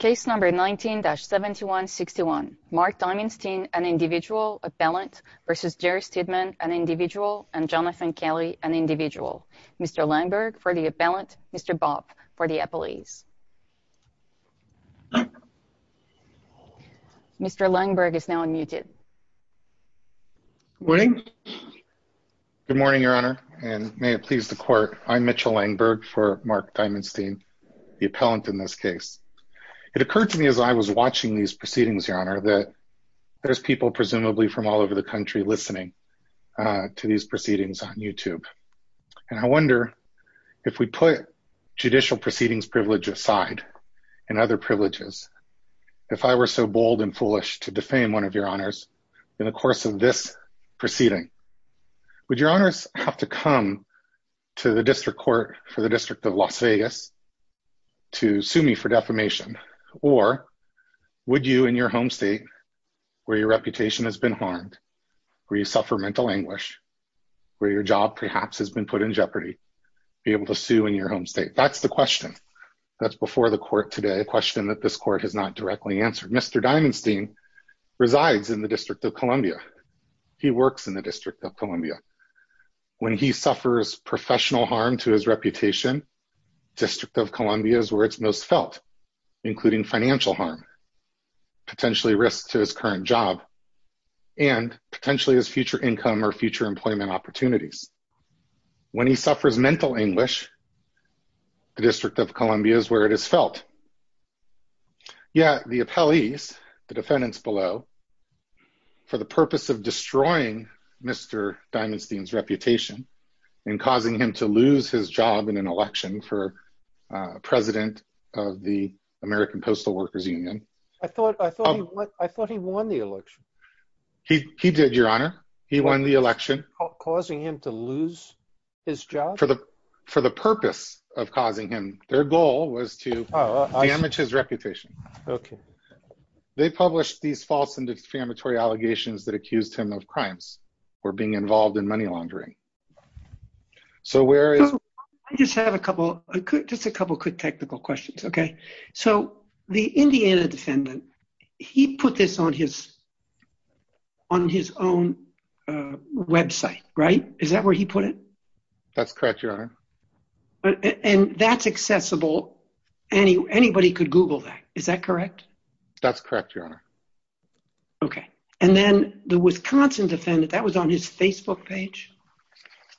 19-7161 Mark Dimondstein, an individual, appellant, v. Jerry Stidman, an individual, and Jonathan Kelly, an individual. Mr. Langberg, for the appellant. Mr. Bob, for the appellees. Mr. Langberg is now unmuted. Good morning. Good morning, Your Honor, and may it please the court. I'm Mitchell Langberg for Mark Dimondstein, the appellant in this case. It occurred to me as I was watching these proceedings, Your Honor, that there's people presumably from all over the country listening to these proceedings on YouTube. And I wonder if we put judicial proceedings privilege aside and other privileges, if I were so bold and foolish to defame one of Your Honors in the course of this proceeding, would Your Honors have to come to the district court for the District of Las Vegas to sue me for defamation? Or would you in your home state, where your reputation has been harmed, where you suffer mental anguish, where your job perhaps has been put in jeopardy, be able to sue in your home state? That's the question. That's before the court today, a question that this court has not directly answered. Mr. Dimondstein resides in the District of Columbia. He works in the District of Columbia. When he suffers professional harm to his reputation, District of Columbia is where it's most felt, including financial harm, potentially risk to his current job, and potentially his future income or future employment opportunities. When he suffers mental anguish, the District of Columbia is where it is felt. Yeah, the appellees, the defendants below, for the purpose of destroying Mr. Dimondstein's reputation and causing him to lose his job in an election for president of the American Postal Workers Union. I thought he won the election. He did, Your Honor. He won the election. Causing him to lose his job? For the purpose of causing him, their goal was to damage his reputation. Okay. They published these false and defamatory allegations that accused him of crimes or being involved in money laundering. So where is... I just have a couple of quick technical questions, okay? So the Indiana defendant, he put this on his own website, right? Is that where he put it? That's correct, Your Honor. And that's accessible. Anybody could Google that. Is that correct? That's correct, Your Honor. Okay. And then the Wisconsin defendant, that was on his Facebook page?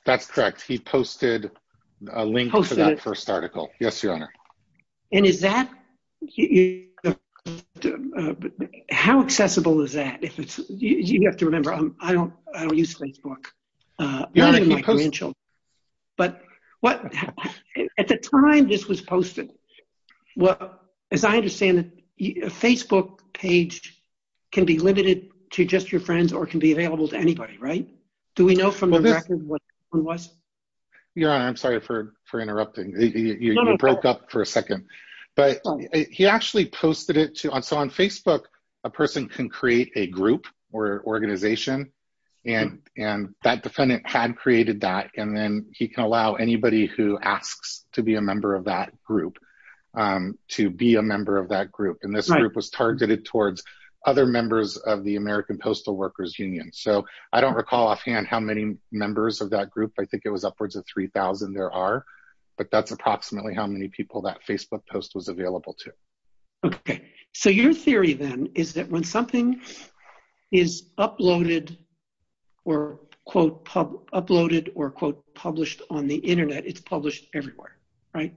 That's correct. He posted a link to that first article. Yes, Your Honor. And is that... How accessible is that? You have to remember, I don't use Facebook. Your Honor, he posted... But at the time this was posted, as I understand it, a Facebook page can be limited to just your friends or can be available to anybody, right? Do we know from the record what it was? Your Honor, I'm sorry for interrupting. You broke up for a second. He actually posted it to... So on Facebook, a person can create a group or organization, and that defendant had created that. And then he can allow anybody who asks to be a member of that group to be a member of that group. And this group was targeted towards other members of the American Postal Workers Union. So I don't recall offhand how many members of that group. I think it was upwards of 3,000 there are. But that's approximately how many people that Facebook post was available to. Okay. So your theory then is that when something is uploaded or, quote, uploaded or, quote, published on the Internet, it's published everywhere, right?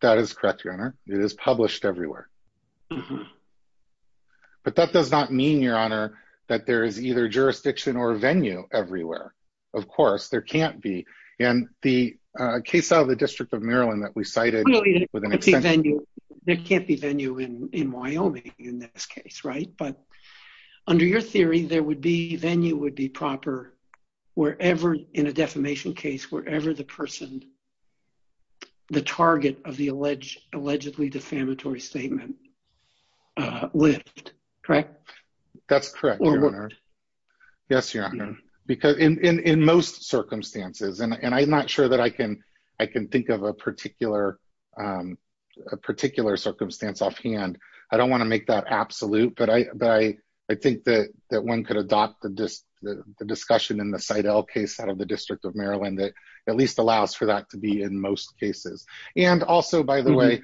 That is correct, Your Honor. It is published everywhere. But that does not mean, Your Honor, that there is either jurisdiction or venue everywhere. Of course, there can't be. And the case out of the District of Maryland that we cited with an extension... There can't be venue in Wyoming in this case, right? But under your theory, there would be venue would be proper wherever in a defamation case, wherever the person, the target of the allegedly defamatory statement lived, correct? That's correct, Your Honor. Yes, Your Honor. Because in most circumstances, and I'm not sure that I can think of a particular circumstance offhand. I don't want to make that absolute, but I think that one could adopt the discussion in the Seidel case out of the District of Maryland that at least allows for that to be in most cases. And also, by the way,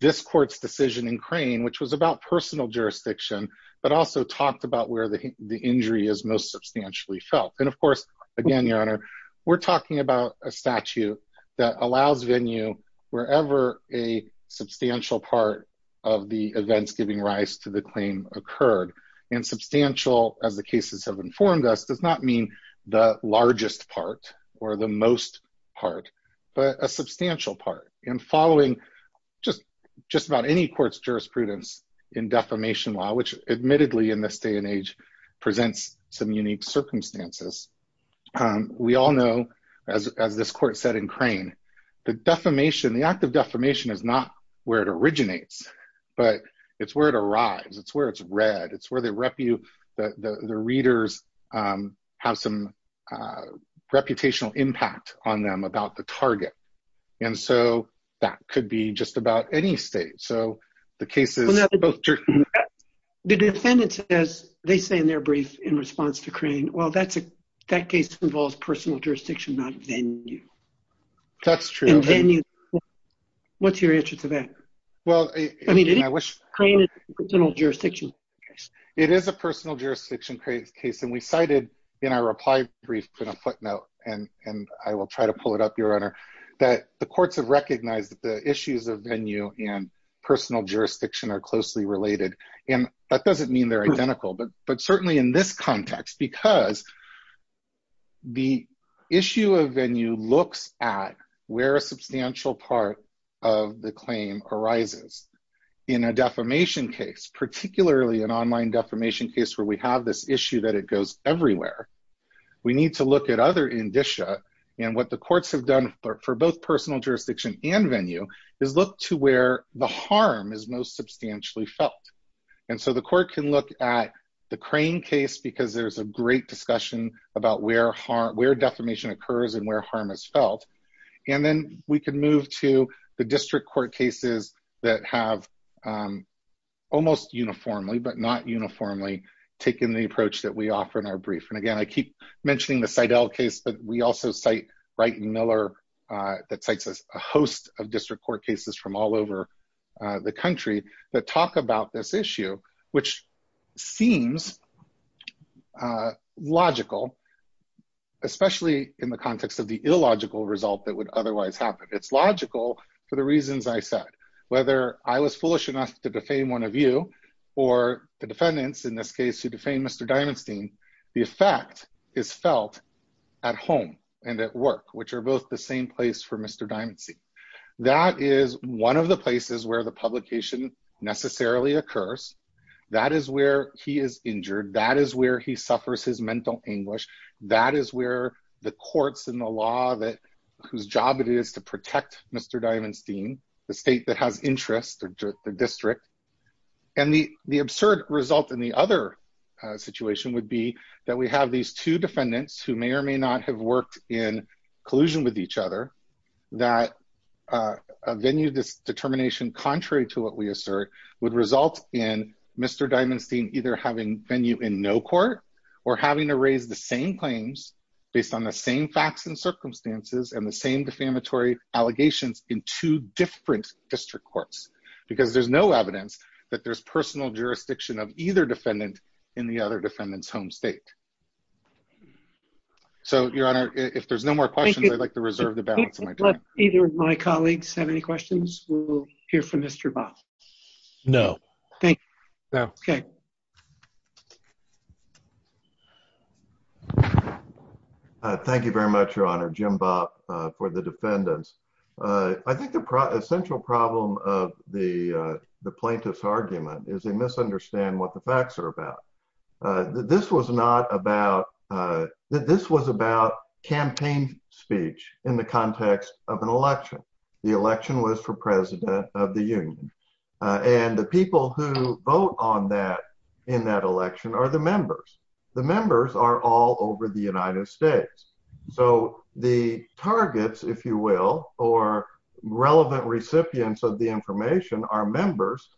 this court's decision in Crane, which was about personal jurisdiction, but also talked about where the injury is most substantially felt. And of course, again, Your Honor, we're talking about a statute that allows venue wherever a substantial part of the events giving rise to the claim occurred. And substantial, as the cases have informed us, does not mean the largest part or the most part, but a substantial part. And following just about any court's jurisprudence in defamation law, which admittedly in this day and age presents some unique circumstances. We all know, as this court said in Crane, the defamation, the act of defamation is not where it originates, but it's where it arrives. It's where it's read. It's where the readers have some reputational impact on them about the target. And so that could be just about any state. So the cases... The defendants, as they say in their brief in response to Crane, well, that case involves personal jurisdiction, not venue. That's true. What's your answer to that? Well, I mean, I wish... Crane is a personal jurisdiction case. And we cited in our reply brief in a footnote, and I will try to pull it up, Your Honor, that the courts have recognized that the issues of venue and personal jurisdiction are closely related. And that doesn't mean they're identical, but certainly in this context, because the issue of venue looks at where a substantial part of the claim arises. In a defamation case, particularly an online defamation case where we have this issue that it goes everywhere, we need to look at other indicia. And what the courts have done for both personal jurisdiction and venue is look to where the harm is most substantially felt. And so the court can look at the Crane case because there's a great discussion about where defamation occurs and where harm is felt. And then we can move to the district court cases that have almost uniformly, but not uniformly, taken the approach that we offer in our brief. And again, I keep mentioning the Seidel case, but we also cite Wright and Miller that cites a host of district court cases from all over the country that talk about this issue, which seems logical, especially in the context of the illogical result that would otherwise happen. It's logical for the reasons I said. Whether I was foolish enough to defame one of you, or the defendants in this case who defamed Mr. Diamonstein, the effect is felt at home and at work, which are both the same place for Mr. Diamonstein. That is one of the places where the publication necessarily occurs. That is where he is injured. That is where he suffers his mental anguish. That is where the courts and the law that whose job it is to protect Mr. Diamonstein, the state that has interest or the district. And the absurd result in the other situation would be that we have these two defendants who may or may not have worked in collusion with each other that a venue determination contrary to what we assert would result in Mr. Diamonstein either having venue in no court or having to raise the same claims based on the same facts and circumstances and the same defamatory allegations in two different district courts. Because there's no evidence that there's personal jurisdiction of either defendant in the other defendants home state. So, Your Honor, if there's no more questions, I'd like to reserve the balance of my time. If either of my colleagues have any questions, we'll hear from Mr. Bob. No. Thank you. No. Okay. Thank you very much, Your Honor. Jim Bob for the defendants. I think the central problem of the plaintiff's argument is they misunderstand what the facts are about. This was not about that. This was about campaign speech in the context of an election. The election was for president of the union and the people who vote on that in that election are the members. The members are all over the United States. So the targets, if you will, or relevant recipients of the information are members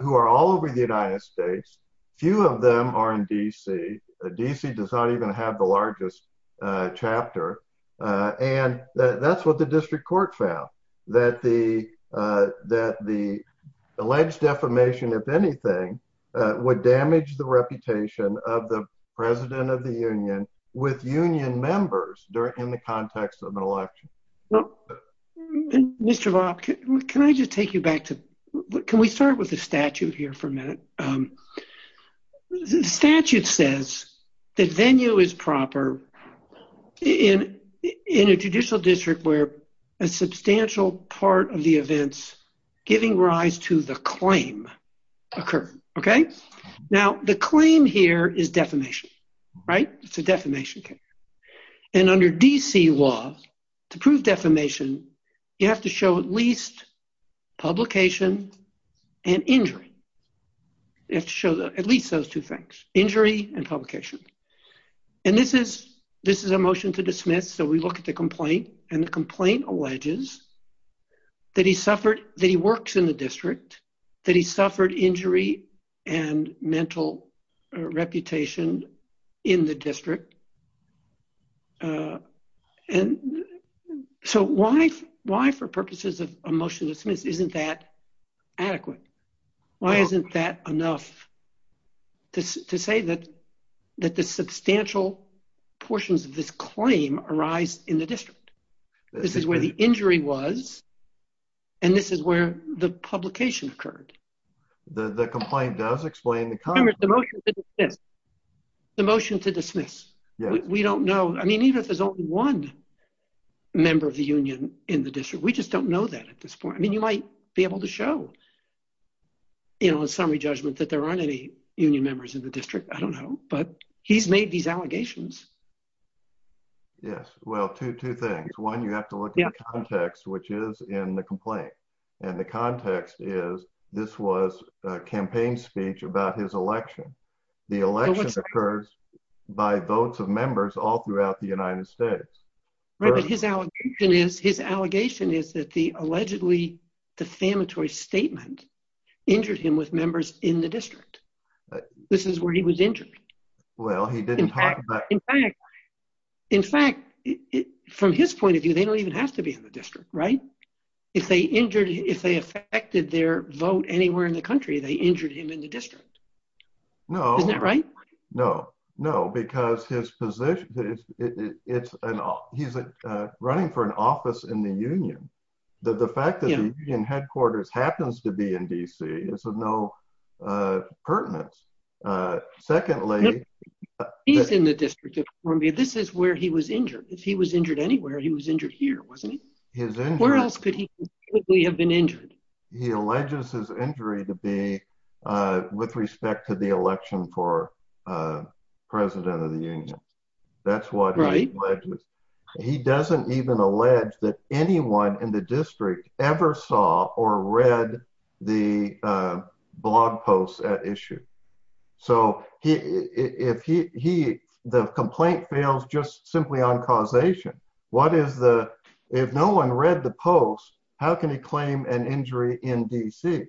who are all over the United States. Few of them are in D.C. D.C. does not even have the largest chapter. And that's what the district court found. That the that the alleged defamation, if anything, would damage the reputation of the president of the union with union members during the context of an election. Mr. Bob, can I just take you back to what can we start with the statute here for a minute? The statute says that venue is proper in a judicial district where a substantial part of the events giving rise to the claim occur. Okay. Now, the claim here is defamation, right? It's a defamation case. And under D.C. law to prove defamation, you have to show at least publication and injury. You have to show at least those two things, injury and publication. And this is this is a motion to dismiss. So we look at the complaint and the complaint alleges that he suffered, that he works in the district, that he suffered injury and mental reputation in the district. So why for purposes of a motion to dismiss isn't that adequate? Why isn't that enough to say that that the substantial portions of this claim arise in the district? This is where the injury was. And this is where the publication occurred. The complaint does explain the motion to dismiss. We don't know. I mean, even if there's only one member of the union in the district, we just don't know that at this point. I mean, you might be able to show, you know, a summary judgment that there aren't any union members in the district. I don't know. But he's made these allegations. Yes. Well, two things. One, you have to look at the context, which is in the complaint. And the context is this was a campaign speech about his election. The election occurs by votes of members all throughout the United States. His allegation is his allegation is that the allegedly defamatory statement injured him with members in the district. This is where he was injured. Well, he didn't. In fact, from his point of view, they don't even have to be in the district. Right. If they injured if they affected their vote anywhere in the country, they injured him in the district. No. Isn't that right? No, no, because his position is it's an he's running for an office in the union. The fact that headquarters happens to be in D.C. is of no pertinence. Secondly, he's in the district. For me, this is where he was injured. If he was injured anywhere, he was injured here, wasn't he? Where else could we have been injured? He alleges his injury to be with respect to the election for president of the union. That's what he does. He doesn't even allege that anyone in the district ever saw or read the blog posts at issue. So if he the complaint fails just simply on causation. What is the if no one read the post, how can he claim an injury in D.C.?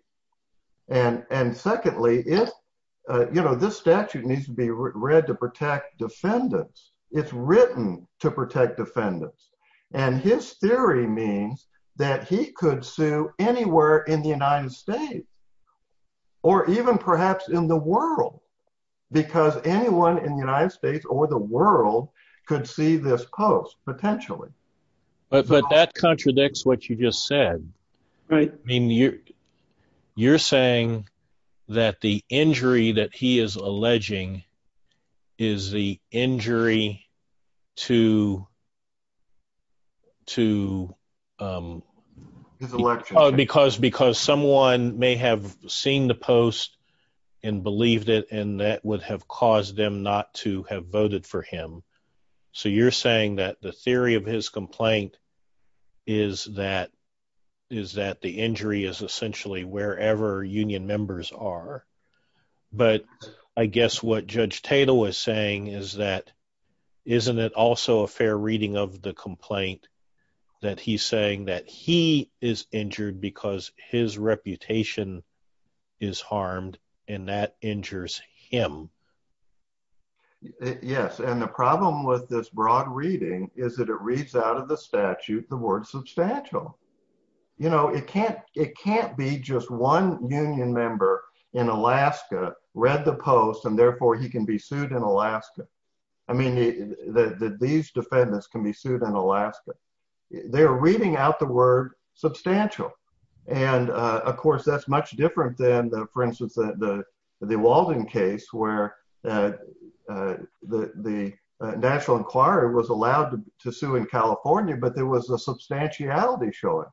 And and secondly, if you know, this statute needs to be read to protect defendants. It's written to protect defendants. And his theory means that he could sue anywhere in the United States. Or even perhaps in the world, because anyone in the United States or the world could see this post. Potentially. But but that contradicts what you just said. Right. I mean, you're you're saying that the injury that he is alleging is the injury to. To his election, because because someone may have seen the post and believed it, and that would have caused them not to have voted for him. So you're saying that the theory of his complaint is that is that the injury is essentially wherever union members are. But I guess what Judge Tatum was saying is that isn't it also a fair reading of the complaint that he's saying that he is injured because his reputation is harmed and that injures him. Yes. And the problem with this broad reading is that it reads out of the statute, the word substantial. You know, it can't it can't be just one union member in Alaska read the post and therefore he can be sued in Alaska. I mean, these defendants can be sued in Alaska. They're reading out the word substantial. And of course, that's much different than, for instance, the Walden case where The National Enquirer was allowed to sue in California, but there was a substantiality showing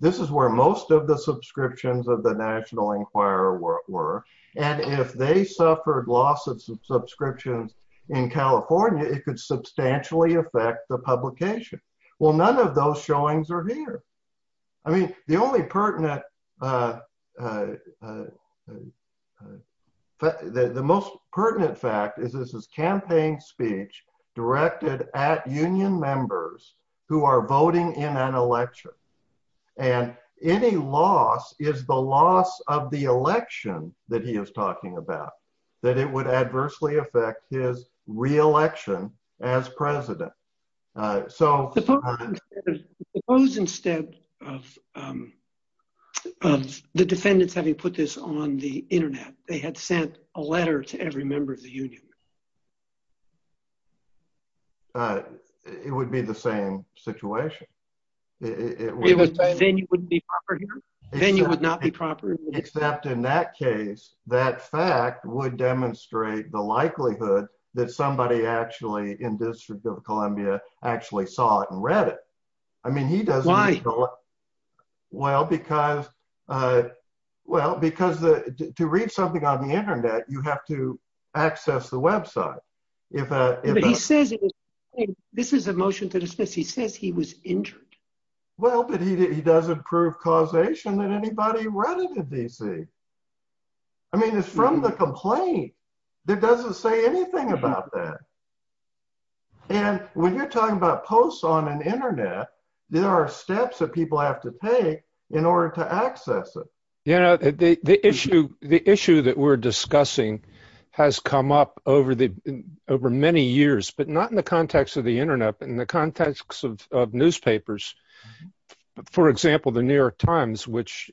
This is where most of the subscriptions of the National Enquirer were and if they suffered loss of subscriptions in California, it could substantially affect the publication. Well, none of those showings are here. I mean, the only pertinent The most pertinent fact is this is campaign speech directed at union members who are voting in an election and any loss is the loss of the election that he is talking about that it would adversely affect his reelection as president. Suppose instead of The defendants having put this on the internet. They had sent a letter to every member of the union. It would be the same situation. Then you wouldn't be proper. Then you would not be proper. Except in that case, that fact would demonstrate the likelihood that somebody actually in District of Columbia actually saw it and read it. I mean, he does. Well, because Well, because to read something on the internet, you have to access the website. He says, this is a motion to dismiss. He says he was injured. Well, but he doesn't prove causation that anybody read it in DC. I mean, it's from the complaint that doesn't say anything about that. And when you're talking about posts on an internet. There are steps that people have to pay in order to access it. Yeah, the issue, the issue that we're discussing has come up over the over many years, but not in the context of the internet and the context of newspapers. For example, the New York Times, which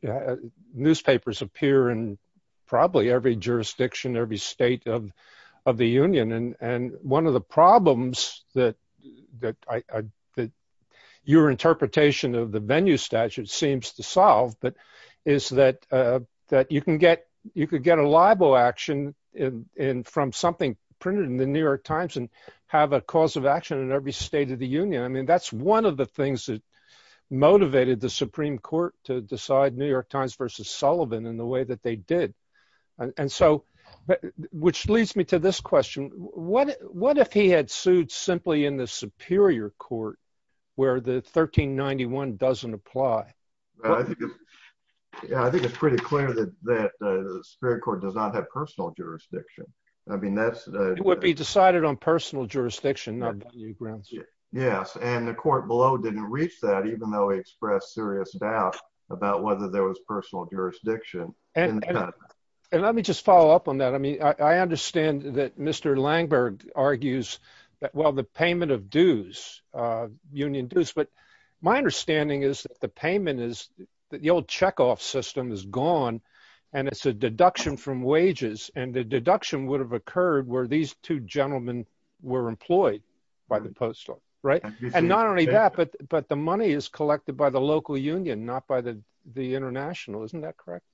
newspapers appear and probably every jurisdiction every state of of the union and and one of the problems that That your interpretation of the venue statute seems to solve, but is that That you can get you could get a libel action in in from something printed in the New York Times and have a cause of action in every state of the union. I mean, that's one of the things that New York Times versus Sullivan in the way that they did. And so, which leads me to this question. What, what if he had sued simply in the Superior Court where the 1391 doesn't apply. I think it's pretty clear that that spirit court does not have personal jurisdiction. I mean, that's Would be decided on personal jurisdiction. Yes. And the court below didn't reach that even though he expressed serious doubt about whether there was personal jurisdiction. And let me just follow up on that. I mean, I understand that Mr Langberg argues that, well, the payment of dues. Union dues, but my understanding is that the payment is that the old check off system is gone. And it's a deduction from wages and the deduction would have occurred where these two gentlemen were employed by the postal right and not only that, but, but the money is collected by the local union, not by the, the international. Isn't that correct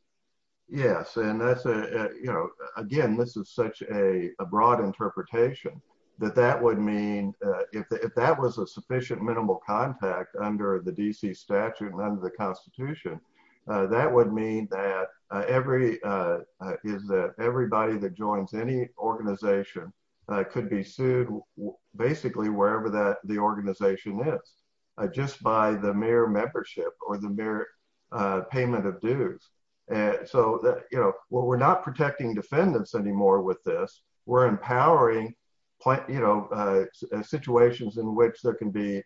Yes. And that's a, you know, again, this is such a broad interpretation that that would mean if that was a sufficient minimal contact under the DC statute and under the Constitution. That would mean that every is that everybody that joins any organization could be sued. Basically, wherever that the organization is just by the mere membership or the mere Payment of dues and so that, you know, we're not protecting defendants anymore with this we're empowering plant, you know, situations in which there can be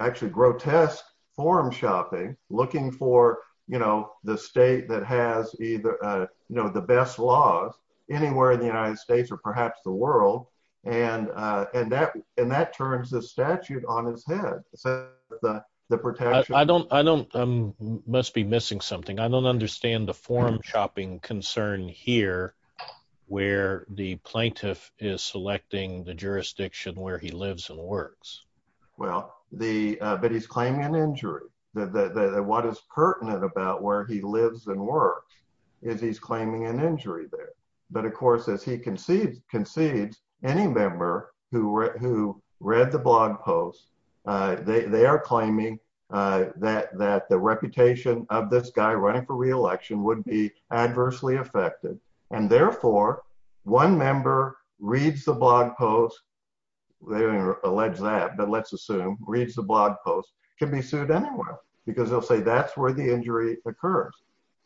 Actually grotesque forum shopping looking for, you know, the state that has either, you know, the best laws anywhere in the United States, or perhaps the world and and that and that turns the statute on his head. So the protection. I don't, I don't must be missing something. I don't understand the forum shopping concern here where the plaintiff is selecting the jurisdiction where he lives and works. Well, the but he's claiming an injury that what is pertinent about where he lives and work is he's claiming an injury there. But of course, as he concedes concedes any member who who read the blog posts. They are claiming that that the reputation of this guy running for reelection would be adversely affected and therefore one member reads the blog posts. They're alleged that but let's assume reads the blog posts can be sued anywhere because they'll say that's where the injury occurs,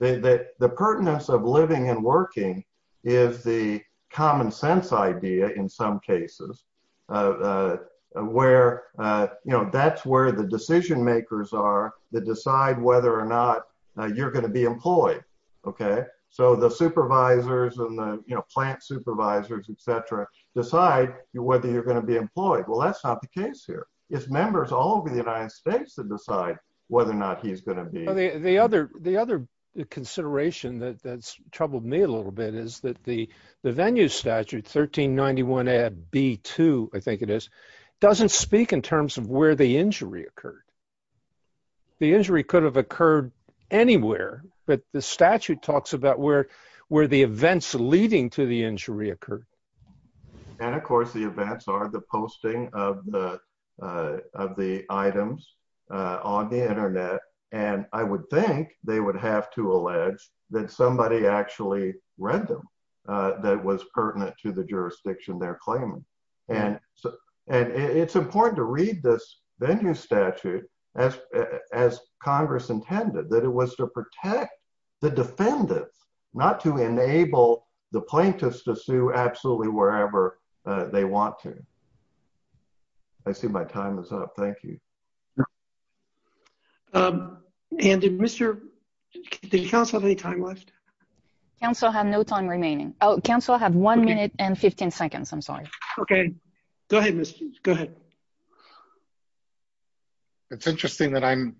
they that the pertinence of living and working is the common sense idea in some cases. Where, you know, that's where the decision makers are the decide whether or not you're going to be employed. Okay, so the supervisors and the, you know, plant supervisors, etc. Decide whether you're going to be employed. Well, that's not the case here is members all over the United States to decide whether or not he's going to be The other the other consideration that that's troubled me a little bit is that the the venue statute 1391 a B to, I think it is doesn't speak in terms of where the injury occurred. The injury could have occurred anywhere, but the statute talks about where where the events leading to the injury occurred. And of course the events are the posting of the of the items on the internet. And I would think they would have to allege that somebody actually read them. That was pertinent to the jurisdiction, they're claiming and and it's important to read this venue statute as as Congress intended that it was to protect the defendants, not to enable the plaintiffs to sue absolutely wherever they want to I see my time is up. Thank you. And did Mr. Council any time left Council have no time remaining Oh Council have one minute and 15 seconds. I'm sorry. Okay, go ahead. Go ahead. It's interesting that I'm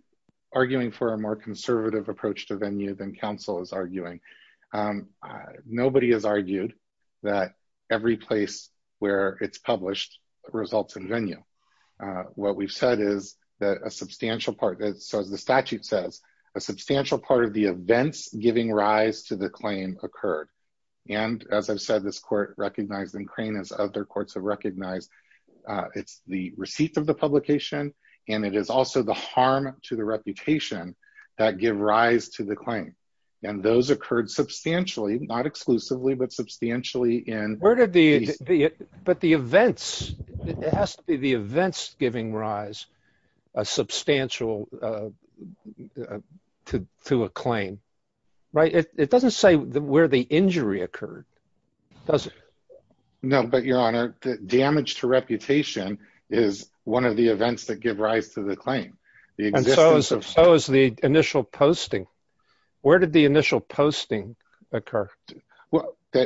arguing for a more conservative approach to venue than Council is arguing Nobody has argued that every place where it's published results in venue. What we've said is that a substantial part that says the statute says a substantial part of the events, giving rise to the claim occurred. And as I've said, this court recognized and crane is other courts have recognized. It's the receipt of the publication and it is also the harm to the reputation that give rise to the claim. And those occurred substantially not exclusively but substantially in Where did the But the events. It has to be the events, giving rise a substantial To to a claim right it doesn't say the where the injury occurred, does it Know, but your honor damage to reputation is one of the events that give rise to the claim. The So is the initial posting. Where did the initial posting occur.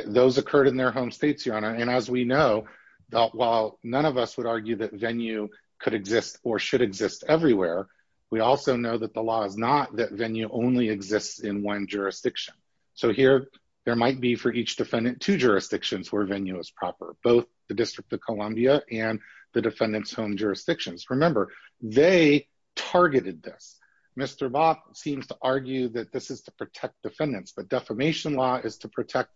Those occurred in their home states, your honor. And as we know, that while none of us would argue that venue could exist or should exist everywhere. We also know that the law is not that venue only exists in one jurisdiction. So here there might be for each defendant to jurisdictions where venue is proper both the District of Columbia and The defendants home jurisdictions. Remember, they targeted this Mr. Bob seems to argue that this is to protect defendants, but defamation law is to protect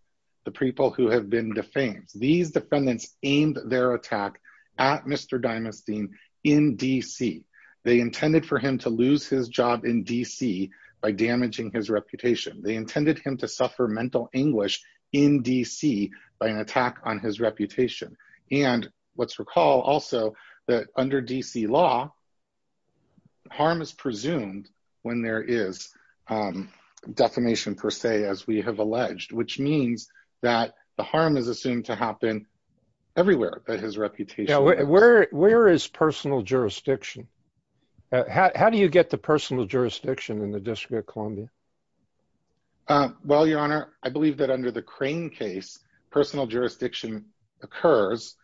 The people who have been defamed these defendants aimed their attack at Mr dynasty in DC, they intended for him to lose his job in DC. By damaging his reputation. They intended him to suffer mental anguish in DC by an attack on his reputation and what's recall also that under DC law. Harm is presumed when there is Defamation per se, as we have alleged, which means that the harm is assumed to happen everywhere, but his reputation. Where, where is personal jurisdiction. How do you get the personal jurisdiction in the District of Columbia. Well, your honor. I believe that under the crane case personal jurisdiction occurs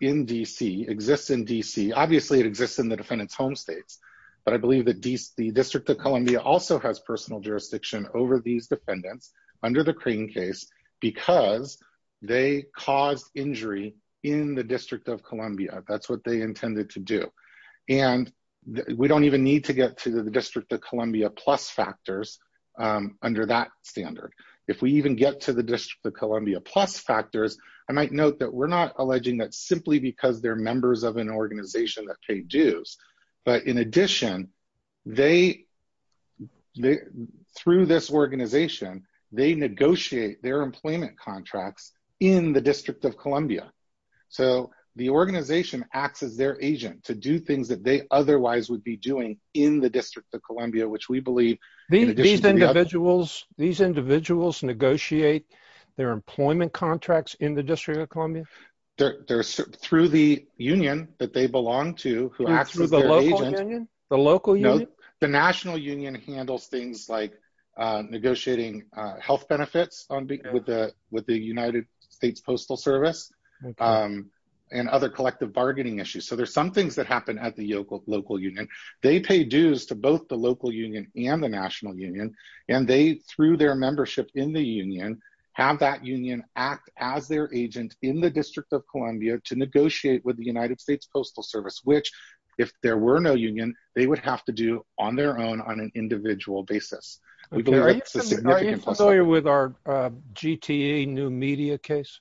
in DC exists in DC. Obviously, it exists in the defendants home states. But I believe that DC District of Columbia also has personal jurisdiction over these defendants under the crane case because They cause injury in the District of Columbia. That's what they intended to do. And we don't even need to get to the District of Columbia plus factors. Under that standard, if we even get to the District of Columbia plus factors. I might note that we're not alleging that simply because they're members of an organization that pay dues. But in addition, they Through this organization, they negotiate their employment contracts in the District of Columbia. So the organization acts as their agent to do things that they otherwise would be doing in the District of Columbia, which we believe These individuals, these individuals negotiate their employment contracts in the District of Columbia. There through the union that they belong to. The local you know the National Union handles things like negotiating health benefits on with the with the United States Postal Service. And other collective bargaining issues. So there's some things that happen at the local local union. They pay dues to both the local union and the National Union and they through their membership in the union. Have that union act as their agent in the District of Columbia to negotiate with the United States Postal Service, which if there were no union, they would have to do on their own on an individual basis. With our GTA new media case.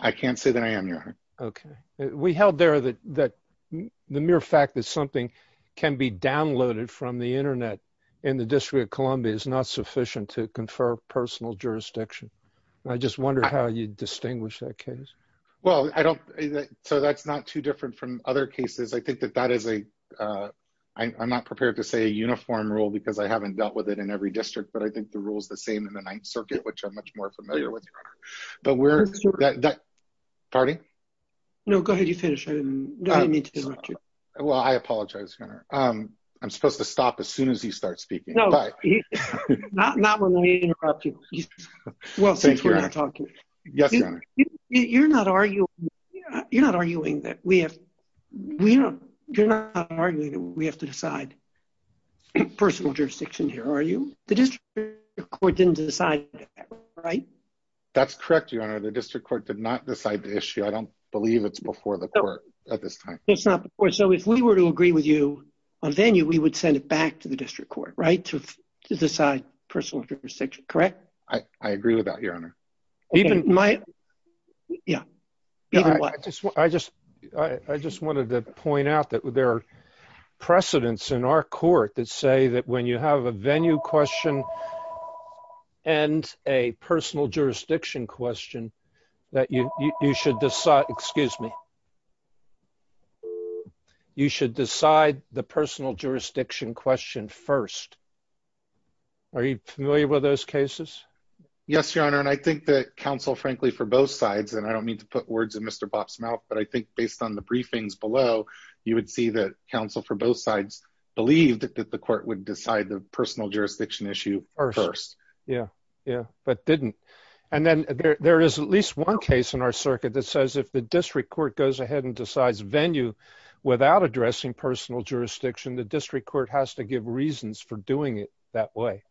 I can't say that I am your Okay, we held there that that the mere fact that something can be downloaded from the internet in the District of Columbia is not sufficient to confer personal jurisdiction. I just wonder how you distinguish that case. Well, I don't. So that's not too different from other cases. I think that that is a I'm not prepared to say uniform rule because I haven't dealt with it in every district, but I think the rules, the same in the Ninth Circuit, which I'm much more familiar with. But we're Party. No, go ahead. You finish. Well, I apologize. I'm supposed to stop as soon as he starts speaking. No, not when we interrupt you. Well, thank you. Yes. You're not arguing. You're not arguing that we have, you know, you're not arguing that we have to decide Personal jurisdiction here. Are you the district court didn't decide. Right. That's correct. You are the district court did not decide the issue. I don't believe it's before the court at this time. So if we were to agree with you on venue, we would send it back to the district court right to decide personal jurisdiction. Correct. I agree with that, Your Honor. Even my Yeah. I just, I just wanted to point out that there are precedents in our court that say that when you have a venue question. And a personal jurisdiction question that you should decide, excuse me. You should decide the personal jurisdiction question first. Are you familiar with those cases. Yes, Your Honor. And I think that counsel, frankly, for both sides. And I don't mean to put words in Mr. Bob's mouth, but I think based on the briefings below you would see that counsel for both sides believed that the court would decide the personal jurisdiction issue. Yeah, yeah, but didn't. And then there is at least one case in our circuit that says if the district court goes ahead and decides venue without addressing personal jurisdiction, the district court has to give reasons for doing it that way.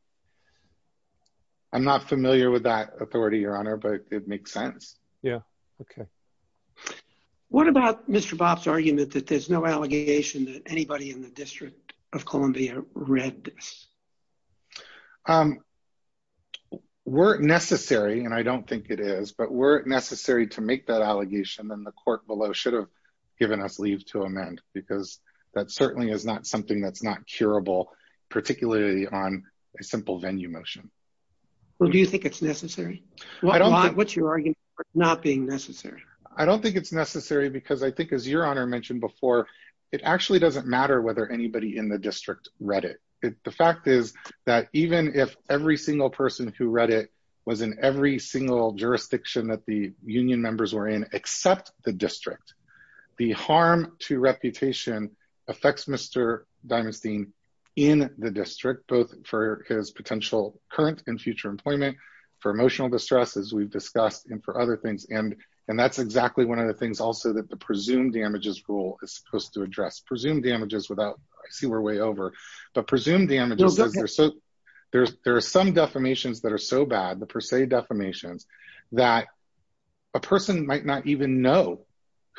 I'm not familiar with that authority, Your Honor, but it makes sense. Yeah. Okay. What about Mr. Bob's argument that there's no allegation that anybody in the District of Columbia read this. Were it necessary, and I don't think it is, but were it necessary to make that allegation, then the court below should have given us leave to amend because that certainly is not something that's not curable, particularly on a simple venue motion. Well, do you think it's necessary. What's your argument for it not being necessary. I don't think it's necessary because I think, as Your Honor mentioned before, it actually doesn't matter whether anybody in the district read it. The fact is that even if every single person who read it was in every single jurisdiction that the union members were in except the district. The harm to reputation affects Mr. Diamonstein in the district, both for his potential current and future employment, for emotional distress, as we've discussed, and for other things. And that's exactly one of the things also that the presumed damages rule is supposed to address. Presumed damages without, I see we're way over. There are some defamations that are so bad, the per se defamations, that a person might not even know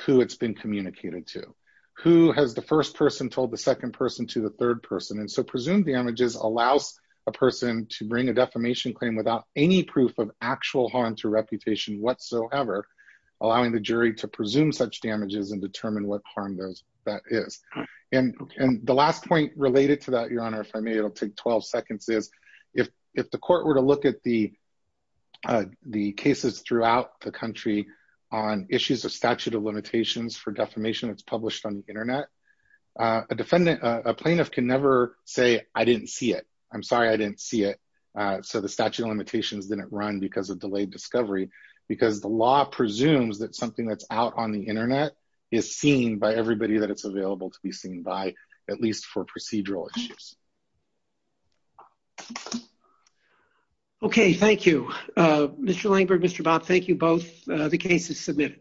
who it's been communicated to. Who has the first person told the second person to the third person. And so presumed damages allows a person to bring a defamation claim without any proof of actual harm to reputation whatsoever, allowing the jury to presume such damages and determine what harm that is. And the last point related to that, Your Honor, if I may, it'll take 12 seconds, is if the court were to look at the cases throughout the country on issues of statute of limitations for defamation that's published on the internet. A defendant, a plaintiff can never say, I didn't see it. I'm sorry I didn't see it. So the statute of limitations didn't run because of delayed discovery, because the law presumes that something that's out on the internet is seen by everybody that it's available to be seen by, at least for procedural issues. Okay, thank you. Mr. Langberg, Mr. Bob, thank you both. The case is submitted.